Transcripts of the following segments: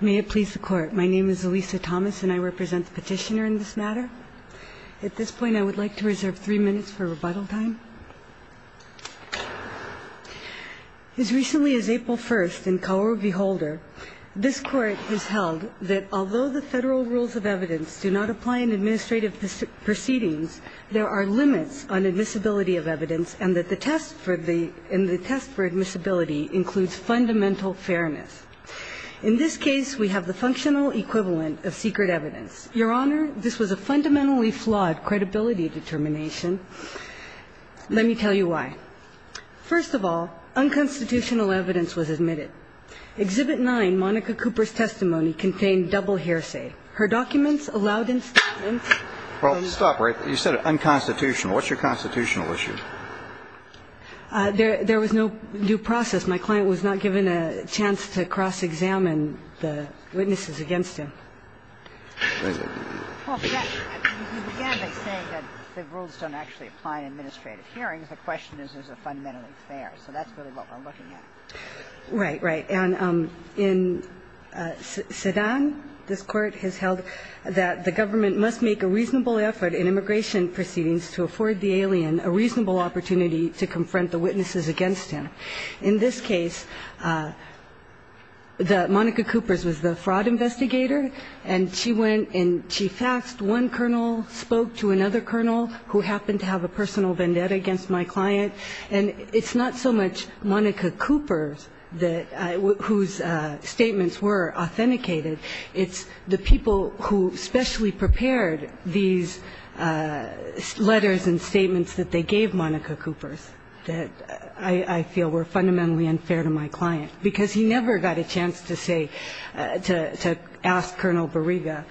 May it please the Court. My name is Elisa Thomas, and I represent the petitioner in this matter. At this point, I would like to reserve three minutes for rebuttal time. As recently as April 1st, in Kaworu v. Holder, this Court has held that although the federal rules of evidence do not apply in administrative proceedings, there are limits on admissibility of evidence and that the test for admissibility includes fundamental fairness. In this case, we have the functional equivalent of secret evidence. Your Honor, this was a fundamentally flawed credibility determination. Let me tell you why. First of all, unconstitutional evidence was admitted. Exhibit 9, Monica Cooper's testimony, contained double hearsay. Her documents allowed instatments. Well, stop, right? You said unconstitutional. What's your constitutional issue? There was no due process. My client was not given a chance to cross-examine the witnesses against him. Well, you began by saying that the rules don't actually apply in administrative hearings. The question is, is it fundamentally fair? So that's really what we're looking at. Right, right. And in Sedan, this Court has held that the government must make a reasonable effort in immigration proceedings to afford the alien a reasonable opportunity to confront the witnesses against him. In this case, Monica Cooper's was the fraud investigator, and she went and she faxed one colonel, spoke to another colonel, who happened to have a personal vendetta against my client. And it's not so much Monica Cooper's whose statements were authenticated. It's the people who specially prepared these letters and statements that they gave Monica Cooper's that I feel were fundamentally unfair to my client, because he never got a chance to say, to ask Colonel Bariga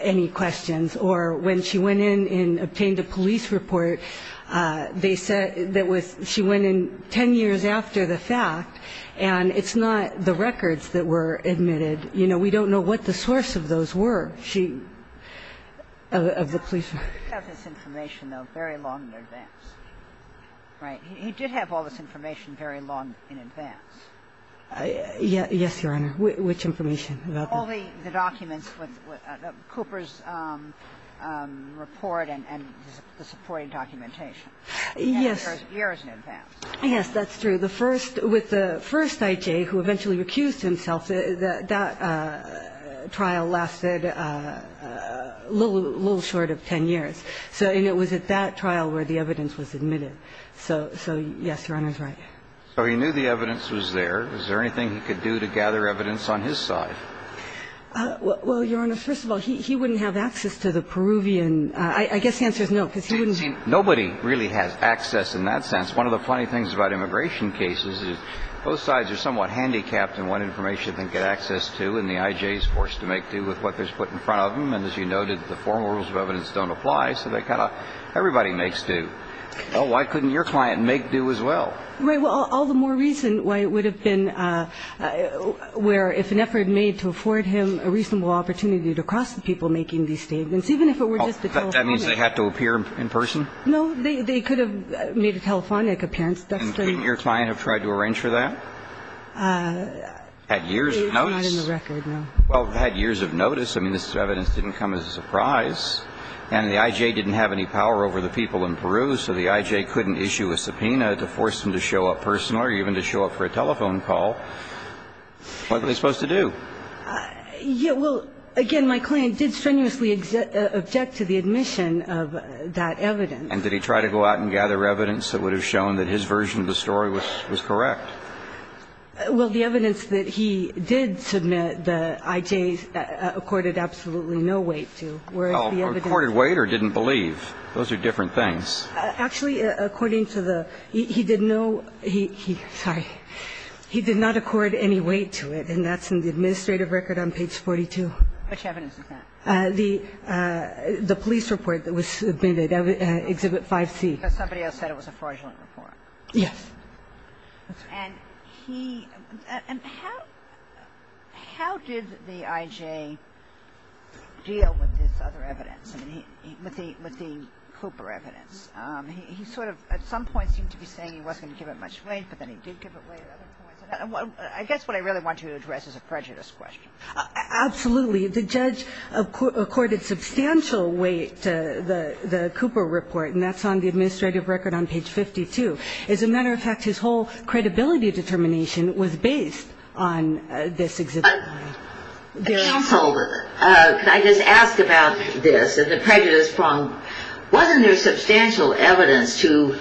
any questions. Or when she went in and obtained a police report, they said that she went in 10 years after the fact, and it's not the records that were admitted. You know, we don't know what the source of those were, of the police. But they did have this information, though, very long in advance. Right? He did have all this information very long in advance. Yes, Your Honor. Which information? All the documents with Cooper's report and the supporting documentation. Yes. Years in advance. Yes, that's true. The first – with the first I.J. who eventually recused himself, that trial lasted a little short of 10 years. And it was at that trial where the evidence was admitted. So, yes, Your Honor's right. So he knew the evidence was there. Is there anything he could do to gather evidence on his side? Well, Your Honor, first of all, he wouldn't have access to the Peruvian. I guess the answer is no, because he wouldn't. Nobody really has access in that sense. One of the funny things about immigration cases is both sides are somewhat handicapped in what information they get access to. And the I.J. is forced to make do with what is put in front of them. And as you noted, the formal rules of evidence don't apply, so they kind of – everybody makes do. Well, why couldn't your client make do as well? Right. Well, all the more reason why it would have been – where if an effort made to afford him a reasonable opportunity to cross the people making these statements, even if it were just a telephonic. That means they had to appear in person? No. They could have made a telephonic appearance. And wouldn't your client have tried to arrange for that? At years of notice? It's not in the record, no. Well, at years of notice, I mean, this evidence didn't come as a surprise. And the I.J. didn't have any power over the people in Peru, so the I.J. couldn't issue a subpoena to force him to show up personally or even to show up for a telephone call. What were they supposed to do? Well, again, my client did strenuously object to the admission of that evidence. And did he try to go out and gather evidence that would have shown that his version of the story was correct? Well, the evidence that he did submit, the I.J.'s, accorded absolutely no weight to, whereas the evidence – Well, accorded weight or didn't believe. Those are different things. Actually, according to the – he did no – he – sorry. He did not accord any weight to it, and that's in the administrative record on page 42. Which evidence is that? The police report that was submitted, Exhibit 5C. Somebody else said it was a fraudulent report. Yes. And he – and how did the I.J. deal with this other evidence, with the Cooper evidence? He sort of at some point seemed to be saying he wasn't going to give it much weight, but then he did give it weight at other points. I guess what I really want to address is a prejudice question. Absolutely. The judge accorded substantial weight to the Cooper report, and that's on the administrative record on page 52. As a matter of fact, his whole credibility determination was based on this Exhibit 5. Counsel, can I just ask about this and the prejudice problem? Wasn't there substantial evidence to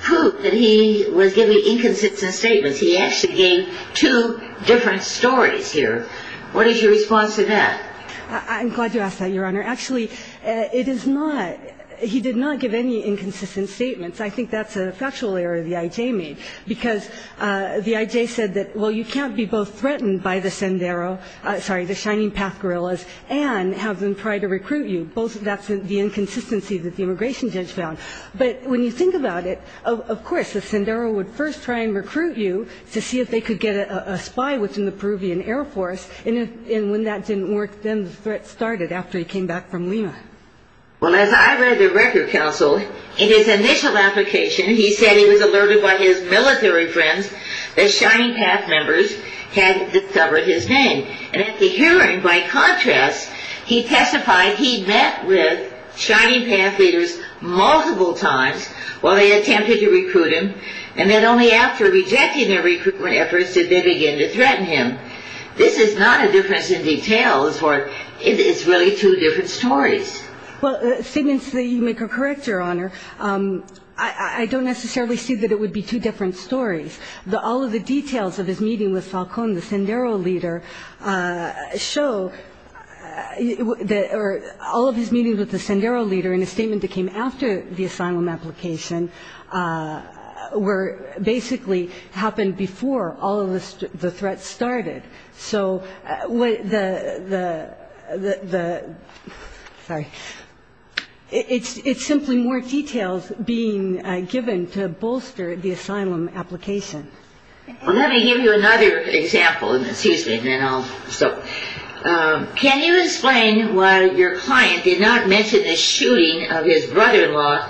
prove that he was giving inconsistent statements? He actually gave two different stories here. What is your response to that? I'm glad you asked that, Your Honor. Actually, it is not – he did not give any inconsistent statements. I think that's a factual error the I.J. made, because the I.J. said that, well, you can't be both threatened by the Sendero – sorry, the Shining Path guerrillas and have them try to recruit you. That's the inconsistency that the immigration judge found. But when you think about it, of course, the Sendero would first try and recruit you to see if they could get a spy within the Peruvian Air Force. And when that didn't work, then the threat started after he came back from Lima. Well, as I read the record, Counsel, in his initial application, he said he was alerted by his military friends that Shining Path members had discovered his name. And at the hearing, by contrast, he testified he'd met with Shining Path leaders multiple times while they attempted to recruit him, and that only after rejecting their recruitment efforts did they begin to threaten him. This is not a difference in details, or it's really two different stories. Well, statements that you make are correct, Your Honor. I don't necessarily see that it would be two different stories. All of the details of his meeting with Falcón, the Sendero leader, show – all of his meetings with the Sendero leader in a statement that came after the asylum application basically happened before all of the threats started. It's simply more details being given to bolster the asylum application. Let me give you another example. Can you explain why your client did not mention the shooting of his brother-in-law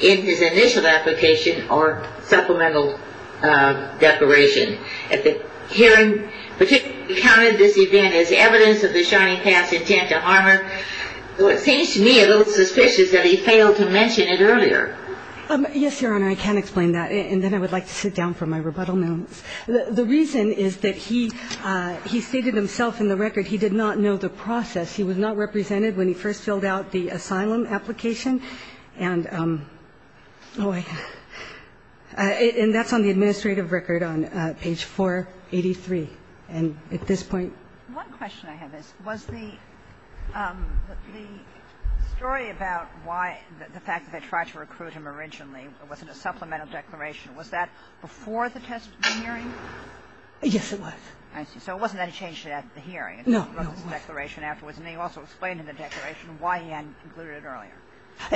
in his initial application or supplemental declaration? At the hearing, particularly he counted this event as evidence of the Shining Path's intent to harm her. So it seems to me a little suspicious that he failed to mention it earlier. Yes, Your Honor, I can explain that, and then I would like to sit down for my rebuttal notes. The reason is that he stated himself in the record he did not know the process. He was not represented when he first filled out the asylum application. And that's on the administrative record on page 483. And at this point – One question I have is, was the story about why – the fact that they tried to recruit him originally, it wasn't a supplemental declaration, was that before the hearing? Yes, it was. I see. So it wasn't any change to that at the hearing. No, it wasn't. It was a declaration afterwards. And they also explained in the declaration why he hadn't concluded it earlier.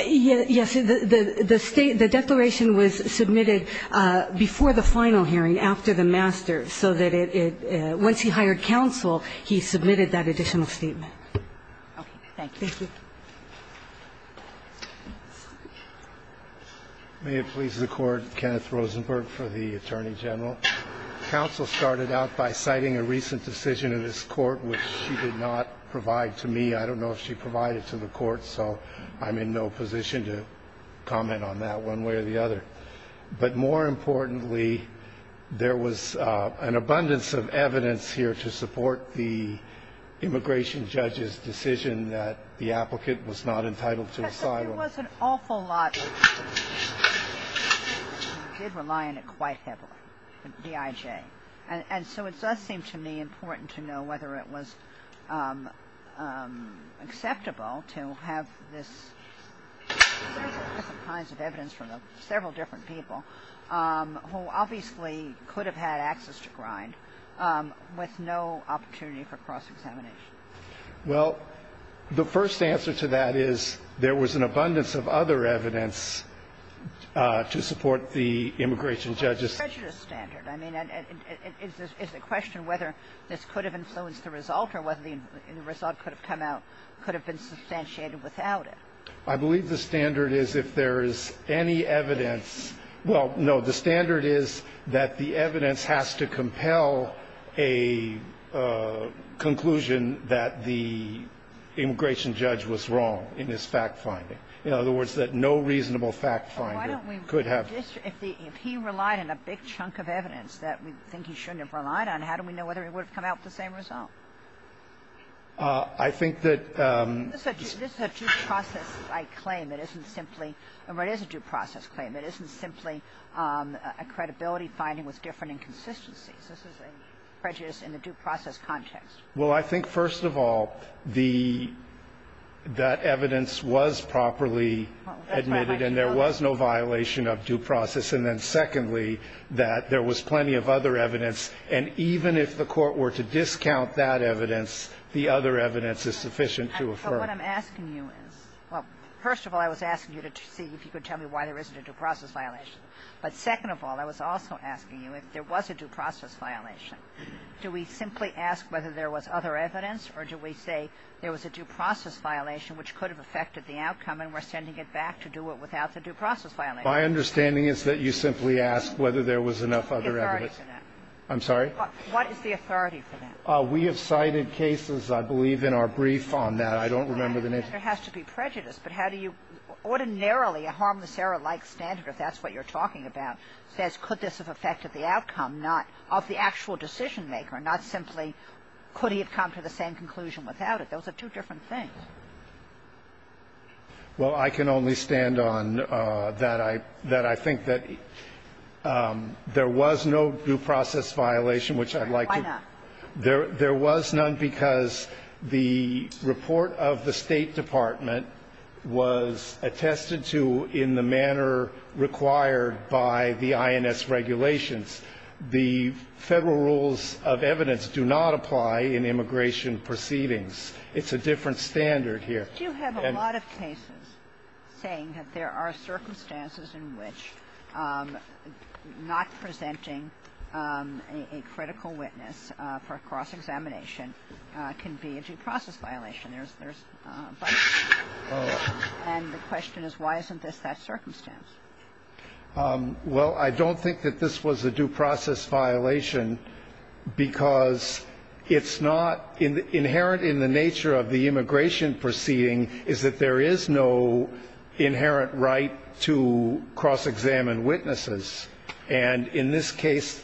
Yes. The state – the declaration was submitted before the final hearing, after the master, so that it – once he hired counsel, he submitted that additional statement. Okay. Thank you. Thank you. May it please the Court, Kenneth Rosenberg for the Attorney General. Counsel started out by citing a recent decision of this Court, which she did not provide to me. I don't know if she provided to the Court, so I'm in no position to comment on that one way or the other. But more importantly, there was an abundance of evidence here to support the immigration judge's decision that the applicant was not entitled to asylum. But there was an awful lot – he did rely on it quite heavily, DIJ. And so it does seem to me important to know whether it was acceptable to have this – there's all kinds of evidence from several different people who obviously could have had access to grind with no opportunity for cross-examination. Well, the first answer to that is there was an abundance of other evidence to support the immigration judge's decision. But what about the prejudice standard? I mean, is the question whether this could have influenced the result or whether the result could have come out – could have been substantiated without it? I believe the standard is if there is any evidence – well, no. The standard is that the evidence has to compel a conclusion that the immigration judge was wrong in his fact-finding. In other words, that no reasonable fact-finder could have – Well, why don't we just – if he relied on a big chunk of evidence that we think he shouldn't have relied on, how do we know whether it would have come out the same result? I think that – This is a due process-like claim. It isn't simply – it is a due process claim. It isn't simply a credibility finding with different inconsistencies. This is a prejudice in the due process context. Well, I think, first of all, the – that evidence was properly admitted and there was no violation of due process. And then, secondly, that there was plenty of other evidence. And even if the Court were to discount that evidence, the other evidence is sufficient to affirm. But what I'm asking you is – well, first of all, I was asking you to see if you could tell me why there isn't a due process violation. But second of all, I was also asking you if there was a due process violation. Do we simply ask whether there was other evidence, or do we say there was a due process violation which could have affected the outcome and we're sending it back to do it without the due process violation? My understanding is that you simply ask whether there was enough other evidence. The authority for that. I'm sorry? What is the authority for that? We have cited cases, I believe, in our brief on that. I don't remember the name. There has to be prejudice. But how do you – ordinarily, a harmless error-like standard, if that's what you're talking about, says could this have affected the outcome, not of the actual decision maker, not simply could he have come to the same conclusion without it. Those are two different things. Well, I can only stand on that I – that I think that there was no due process violation, which I'd like to – Why not? There was none because the report of the State Department was attested to in the manner required by the INS regulations. The Federal rules of evidence do not apply in immigration proceedings. It's a different standard here. But you have a lot of cases saying that there are circumstances in which not presenting a critical witness for cross-examination can be a due process violation. There's – and the question is why isn't this that circumstance? Well, I don't think that this was a due process violation because it's not – inherent in the nature of the immigration proceeding is that there is no inherent right to cross-examine witnesses. And in this case,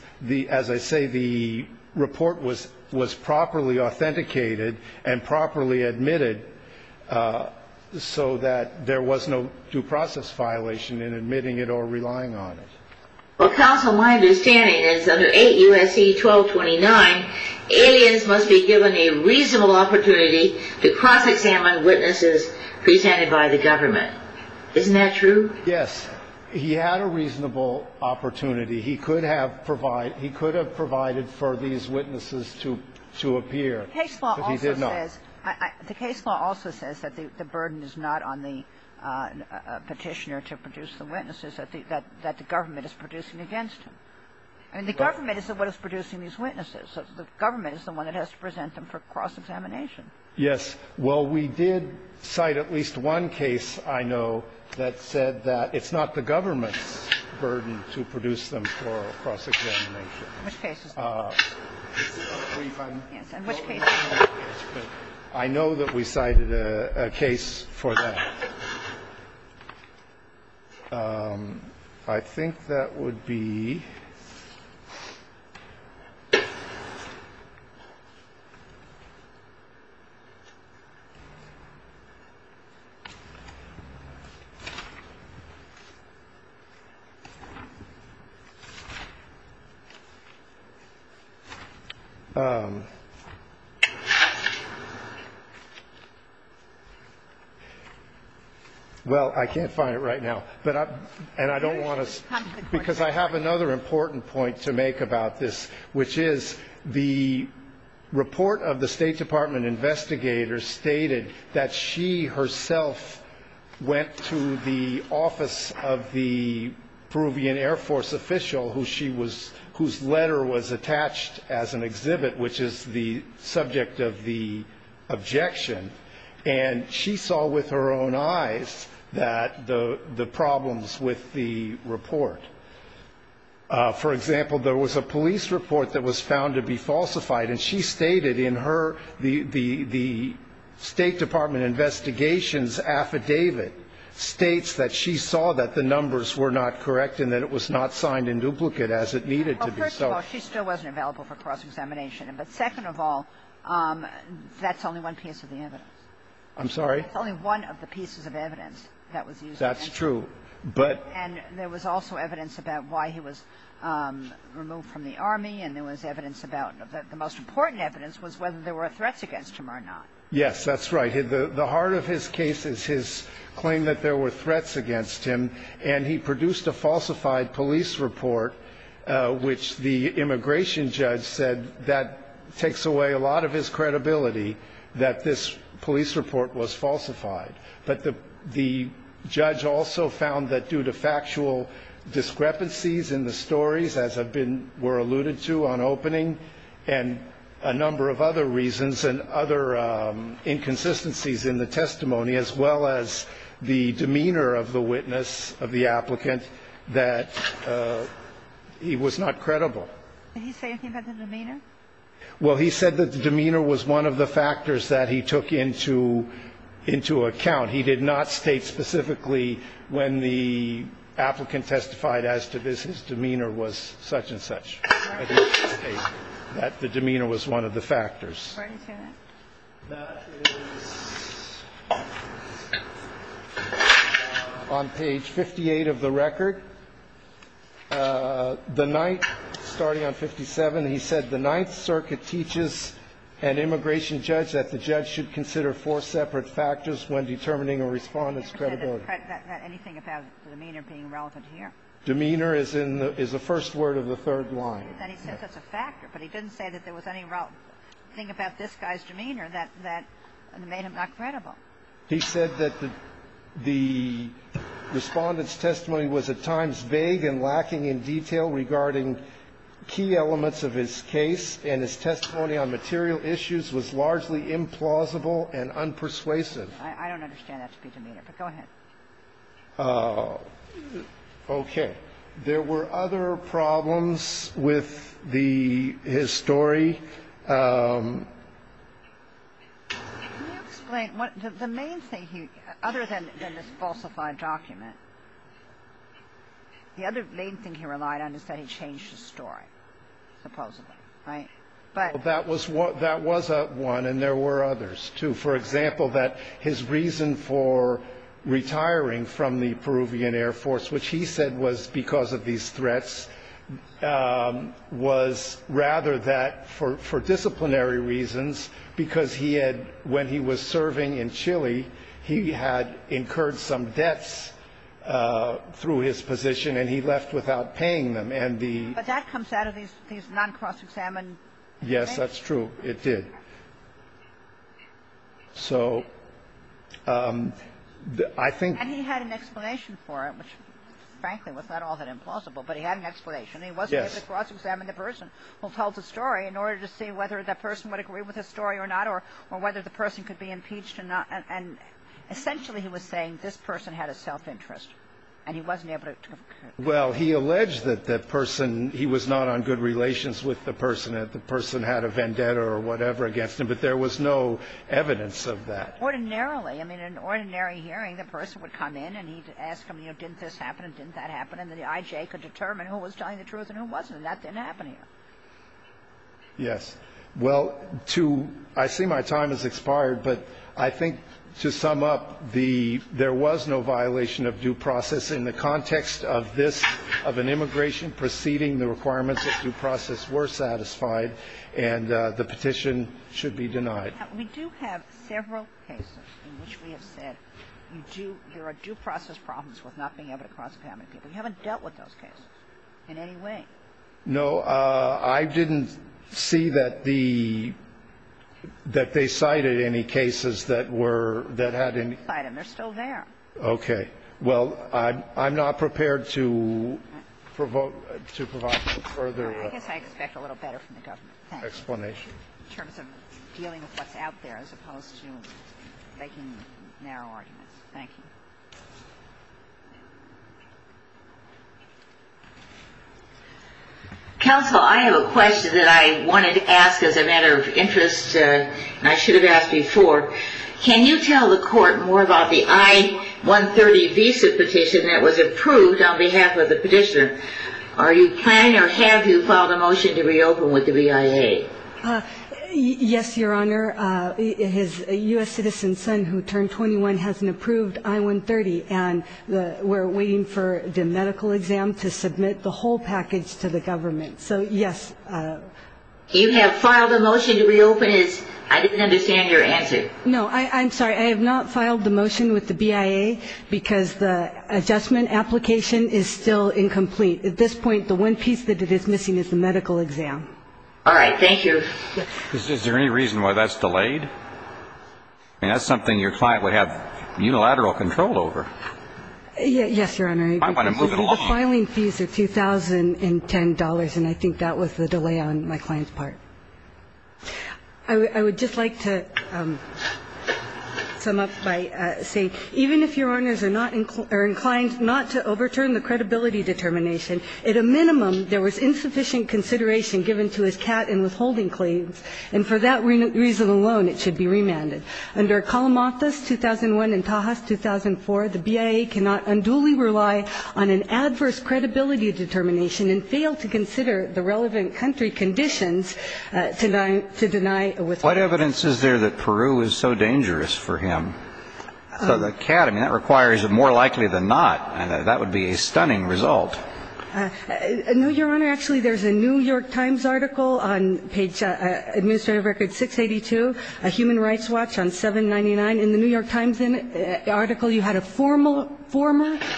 as I say, the report was properly authenticated and properly admitted so that there was no due process violation in admitting it or relying on it. Well, counsel, my understanding is under 8 U.S.C. 1229, aliens must be given a reasonable opportunity to cross-examine witnesses presented by the government. Isn't that true? Yes. He had a reasonable opportunity. He could have provided – he could have provided for these witnesses to appear, but he did not. The case law also says – the case law also says that the burden is not on the Petitioner to produce the witnesses, that the government is producing against him. And the government is the one that's producing these witnesses. So the government is the one that has to present them for cross-examination. Well, we did cite at least one case, I know, that said that it's not the government's burden to produce them for cross-examination. Which case? It's brief. Yes, and which case? I know that we cited a case for that. I think that would be – Well, I can't find it right now, and I don't want to – because I have another important point to make about this, which is the report of the State Department investigators stated that she herself went to the office of the Peruvian Air Force official whose letter was attached as an exhibit, which is the subject of the objection, and she saw with her own eyes that the problems with the report. For example, there was a police report that was found to be falsified, and she stated in her – the State Department investigations affidavit states that she saw that the numbers were not correct and that it was not signed in duplicate as it needed to be so. Well, first of all, she still wasn't available for cross-examination. But second of all, that's only one piece of the evidence. I'm sorry? It's only one of the pieces of evidence that was used. That's true. But – And there was also evidence about why he was removed from the Army, and there was evidence about – the most important evidence was whether there were threats against him or not. Yes, that's right. The heart of his case is his claim that there were threats against him, and he produced a falsified police report, which the immigration judge said that takes away a lot of his credibility that this police report was falsified. But the judge also found that due to factual discrepancies in the stories, as have been – were alluded to on opening, and a number of other reasons and other inconsistencies in the testimony, as well as the demeanor of the witness, of the applicant, that he was not credible. Did he say anything about the demeanor? Well, he said that the demeanor was one of the factors that he took into account. He did not state specifically when the applicant testified as to this, his demeanor was such and such. Where did he say that? That is on page 58 of the record. The ninth, starting on 57, he said the Ninth Circuit teaches an immigration judge that the judge should consider four separate factors when determining a Respondent's credibility. Anything about demeanor being relevant here? Demeanor is in the – is the first word of the third line. And he said that's a factor, but he didn't say that there was any thing about this guy's demeanor that made him not credible. He said that the Respondent's testimony was at times vague and lacking in detail regarding key elements of his case, and his testimony on material issues was largely implausible and unpersuasive. I don't understand that to be demeanor, but go ahead. Okay. There were other problems with the – his story. Can you explain what – the main thing he – other than this falsified document, the other main thing he relied on is that he changed his story, supposedly, right? That was one, and there were others, too. For example, that his reason for retiring from the Peruvian Air Force, which he said was because of these threats, was rather that for disciplinary reasons, because he had – when he was serving in Chile, he had incurred some debts through his position, and he left without paying them. And the – But that comes out of these non-cross-examined things. Yes, that's true. It did. So I think – And he had an explanation for it, which, frankly, was not all that implausible, but he had an explanation. Yes. He wasn't able to cross-examine the person who told the story in order to see whether the person would agree with his story or not or whether the person could be impeached or not. And essentially, he was saying this person had a self-interest, and he wasn't able to – Well, he alleged that the person – he was not on good relations with the person, that the person had a vendetta or whatever against him, but there was no evidence of that. Ordinarily. I mean, in an ordinary hearing, the person would come in and he'd ask him, you know, didn't this happen and didn't that happen, and the IJ could determine who was telling the truth and who wasn't, and that didn't happen here. Yes. Well, to – I see my time has expired, but I think to sum up the – there was no violation of due process in the context of this – of an immigration preceding the requirements that due process were satisfied and the petition should be denied. We do have several cases in which we have said you do – there are due process problems with not being able to cross-examine people. You haven't dealt with those cases in any way. No. I didn't see that the – that they cited any cases that were – that had any – They didn't cite them. They're still there. Okay. Well, I'm not prepared to provoke – to provide further explanation. I guess I expect a little better from the government. Thank you. In terms of dealing with what's out there as opposed to making narrow arguments. Thank you. Counsel, I have a question that I wanted to ask as a matter of interest and I should have asked before. Can you tell the court more about the I-130 visa petition that was approved on behalf of the petitioner? Are you planning or have you filed a motion to reopen with the BIA? Yes, Your Honor. His U.S. citizen son who turned 21 hasn't approved I-130 and we're waiting for the medical exam to submit the whole package to the government. So, yes. You have filed a motion to reopen his – I didn't understand your answer. No. I'm sorry. I have not filed the motion with the BIA because the adjustment application is still incomplete. At this point, the one piece that it is missing is the medical exam. All right. Thank you. Is there any reason why that's delayed? I mean, that's something your client would have unilateral control over. Yes, Your Honor. I want to move it along. The filing fees are $2,010 and I think that was the delay on my client's part. I would just like to sum up by saying even if Your Honors are not – are inclined not to overturn the credibility determination, at a minimum, there was insufficient consideration given to his CAT and withholding claims, and for that reason alone, it should be remanded. Under Kalamathas 2001 and Tahas 2004, the BIA cannot unduly rely on an adverse credibility determination and fail to consider the relevant country conditions to deny withholding. What evidence is there that Peru is so dangerous for him? The CAT, I mean, that requires more likely than not. That would be a stunning result. No, Your Honor. Actually, there's a New York Times article on page – administrative record 682, a human rights watch on 799. And in the New York Times article, you had a former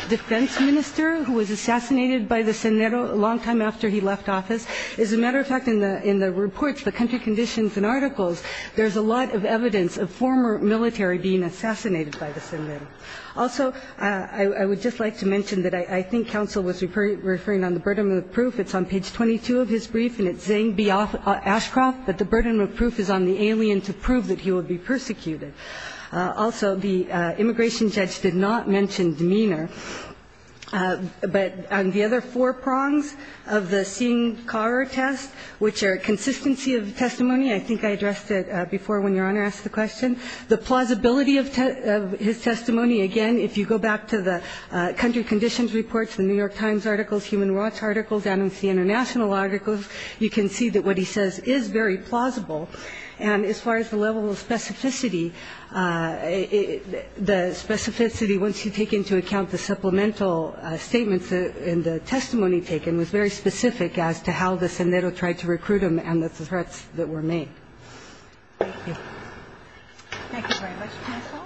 defense minister who was assassinated by the Senero a long time after he left office. As a matter of fact, in the reports, the country conditions and articles, there's a lot of evidence of former military being assassinated by the Senero. Also, I would just like to mention that I think counsel was referring on the burden of proof. It's on page 22 of his brief and it's Zeng B. Ashcroft that the burden of proof is on the alien to prove that he will be persecuted. Also, the immigration judge did not mention demeanor. But on the other four prongs of the Singh-Carr test, which are consistency of testimony, I think I addressed it before when Your Honor asked the question, the plausibility of his testimony. Again, if you go back to the country conditions reports, the New York Times articles, human rights articles, and with the international articles, you can see that what he says is very plausible. And as far as the level of specificity, the specificity, once you take into account the supplemental statements in the testimony taken, was very specific as to how the Senero tried to recruit him and the threats that were made. Thank you. Thank you very much, counsel.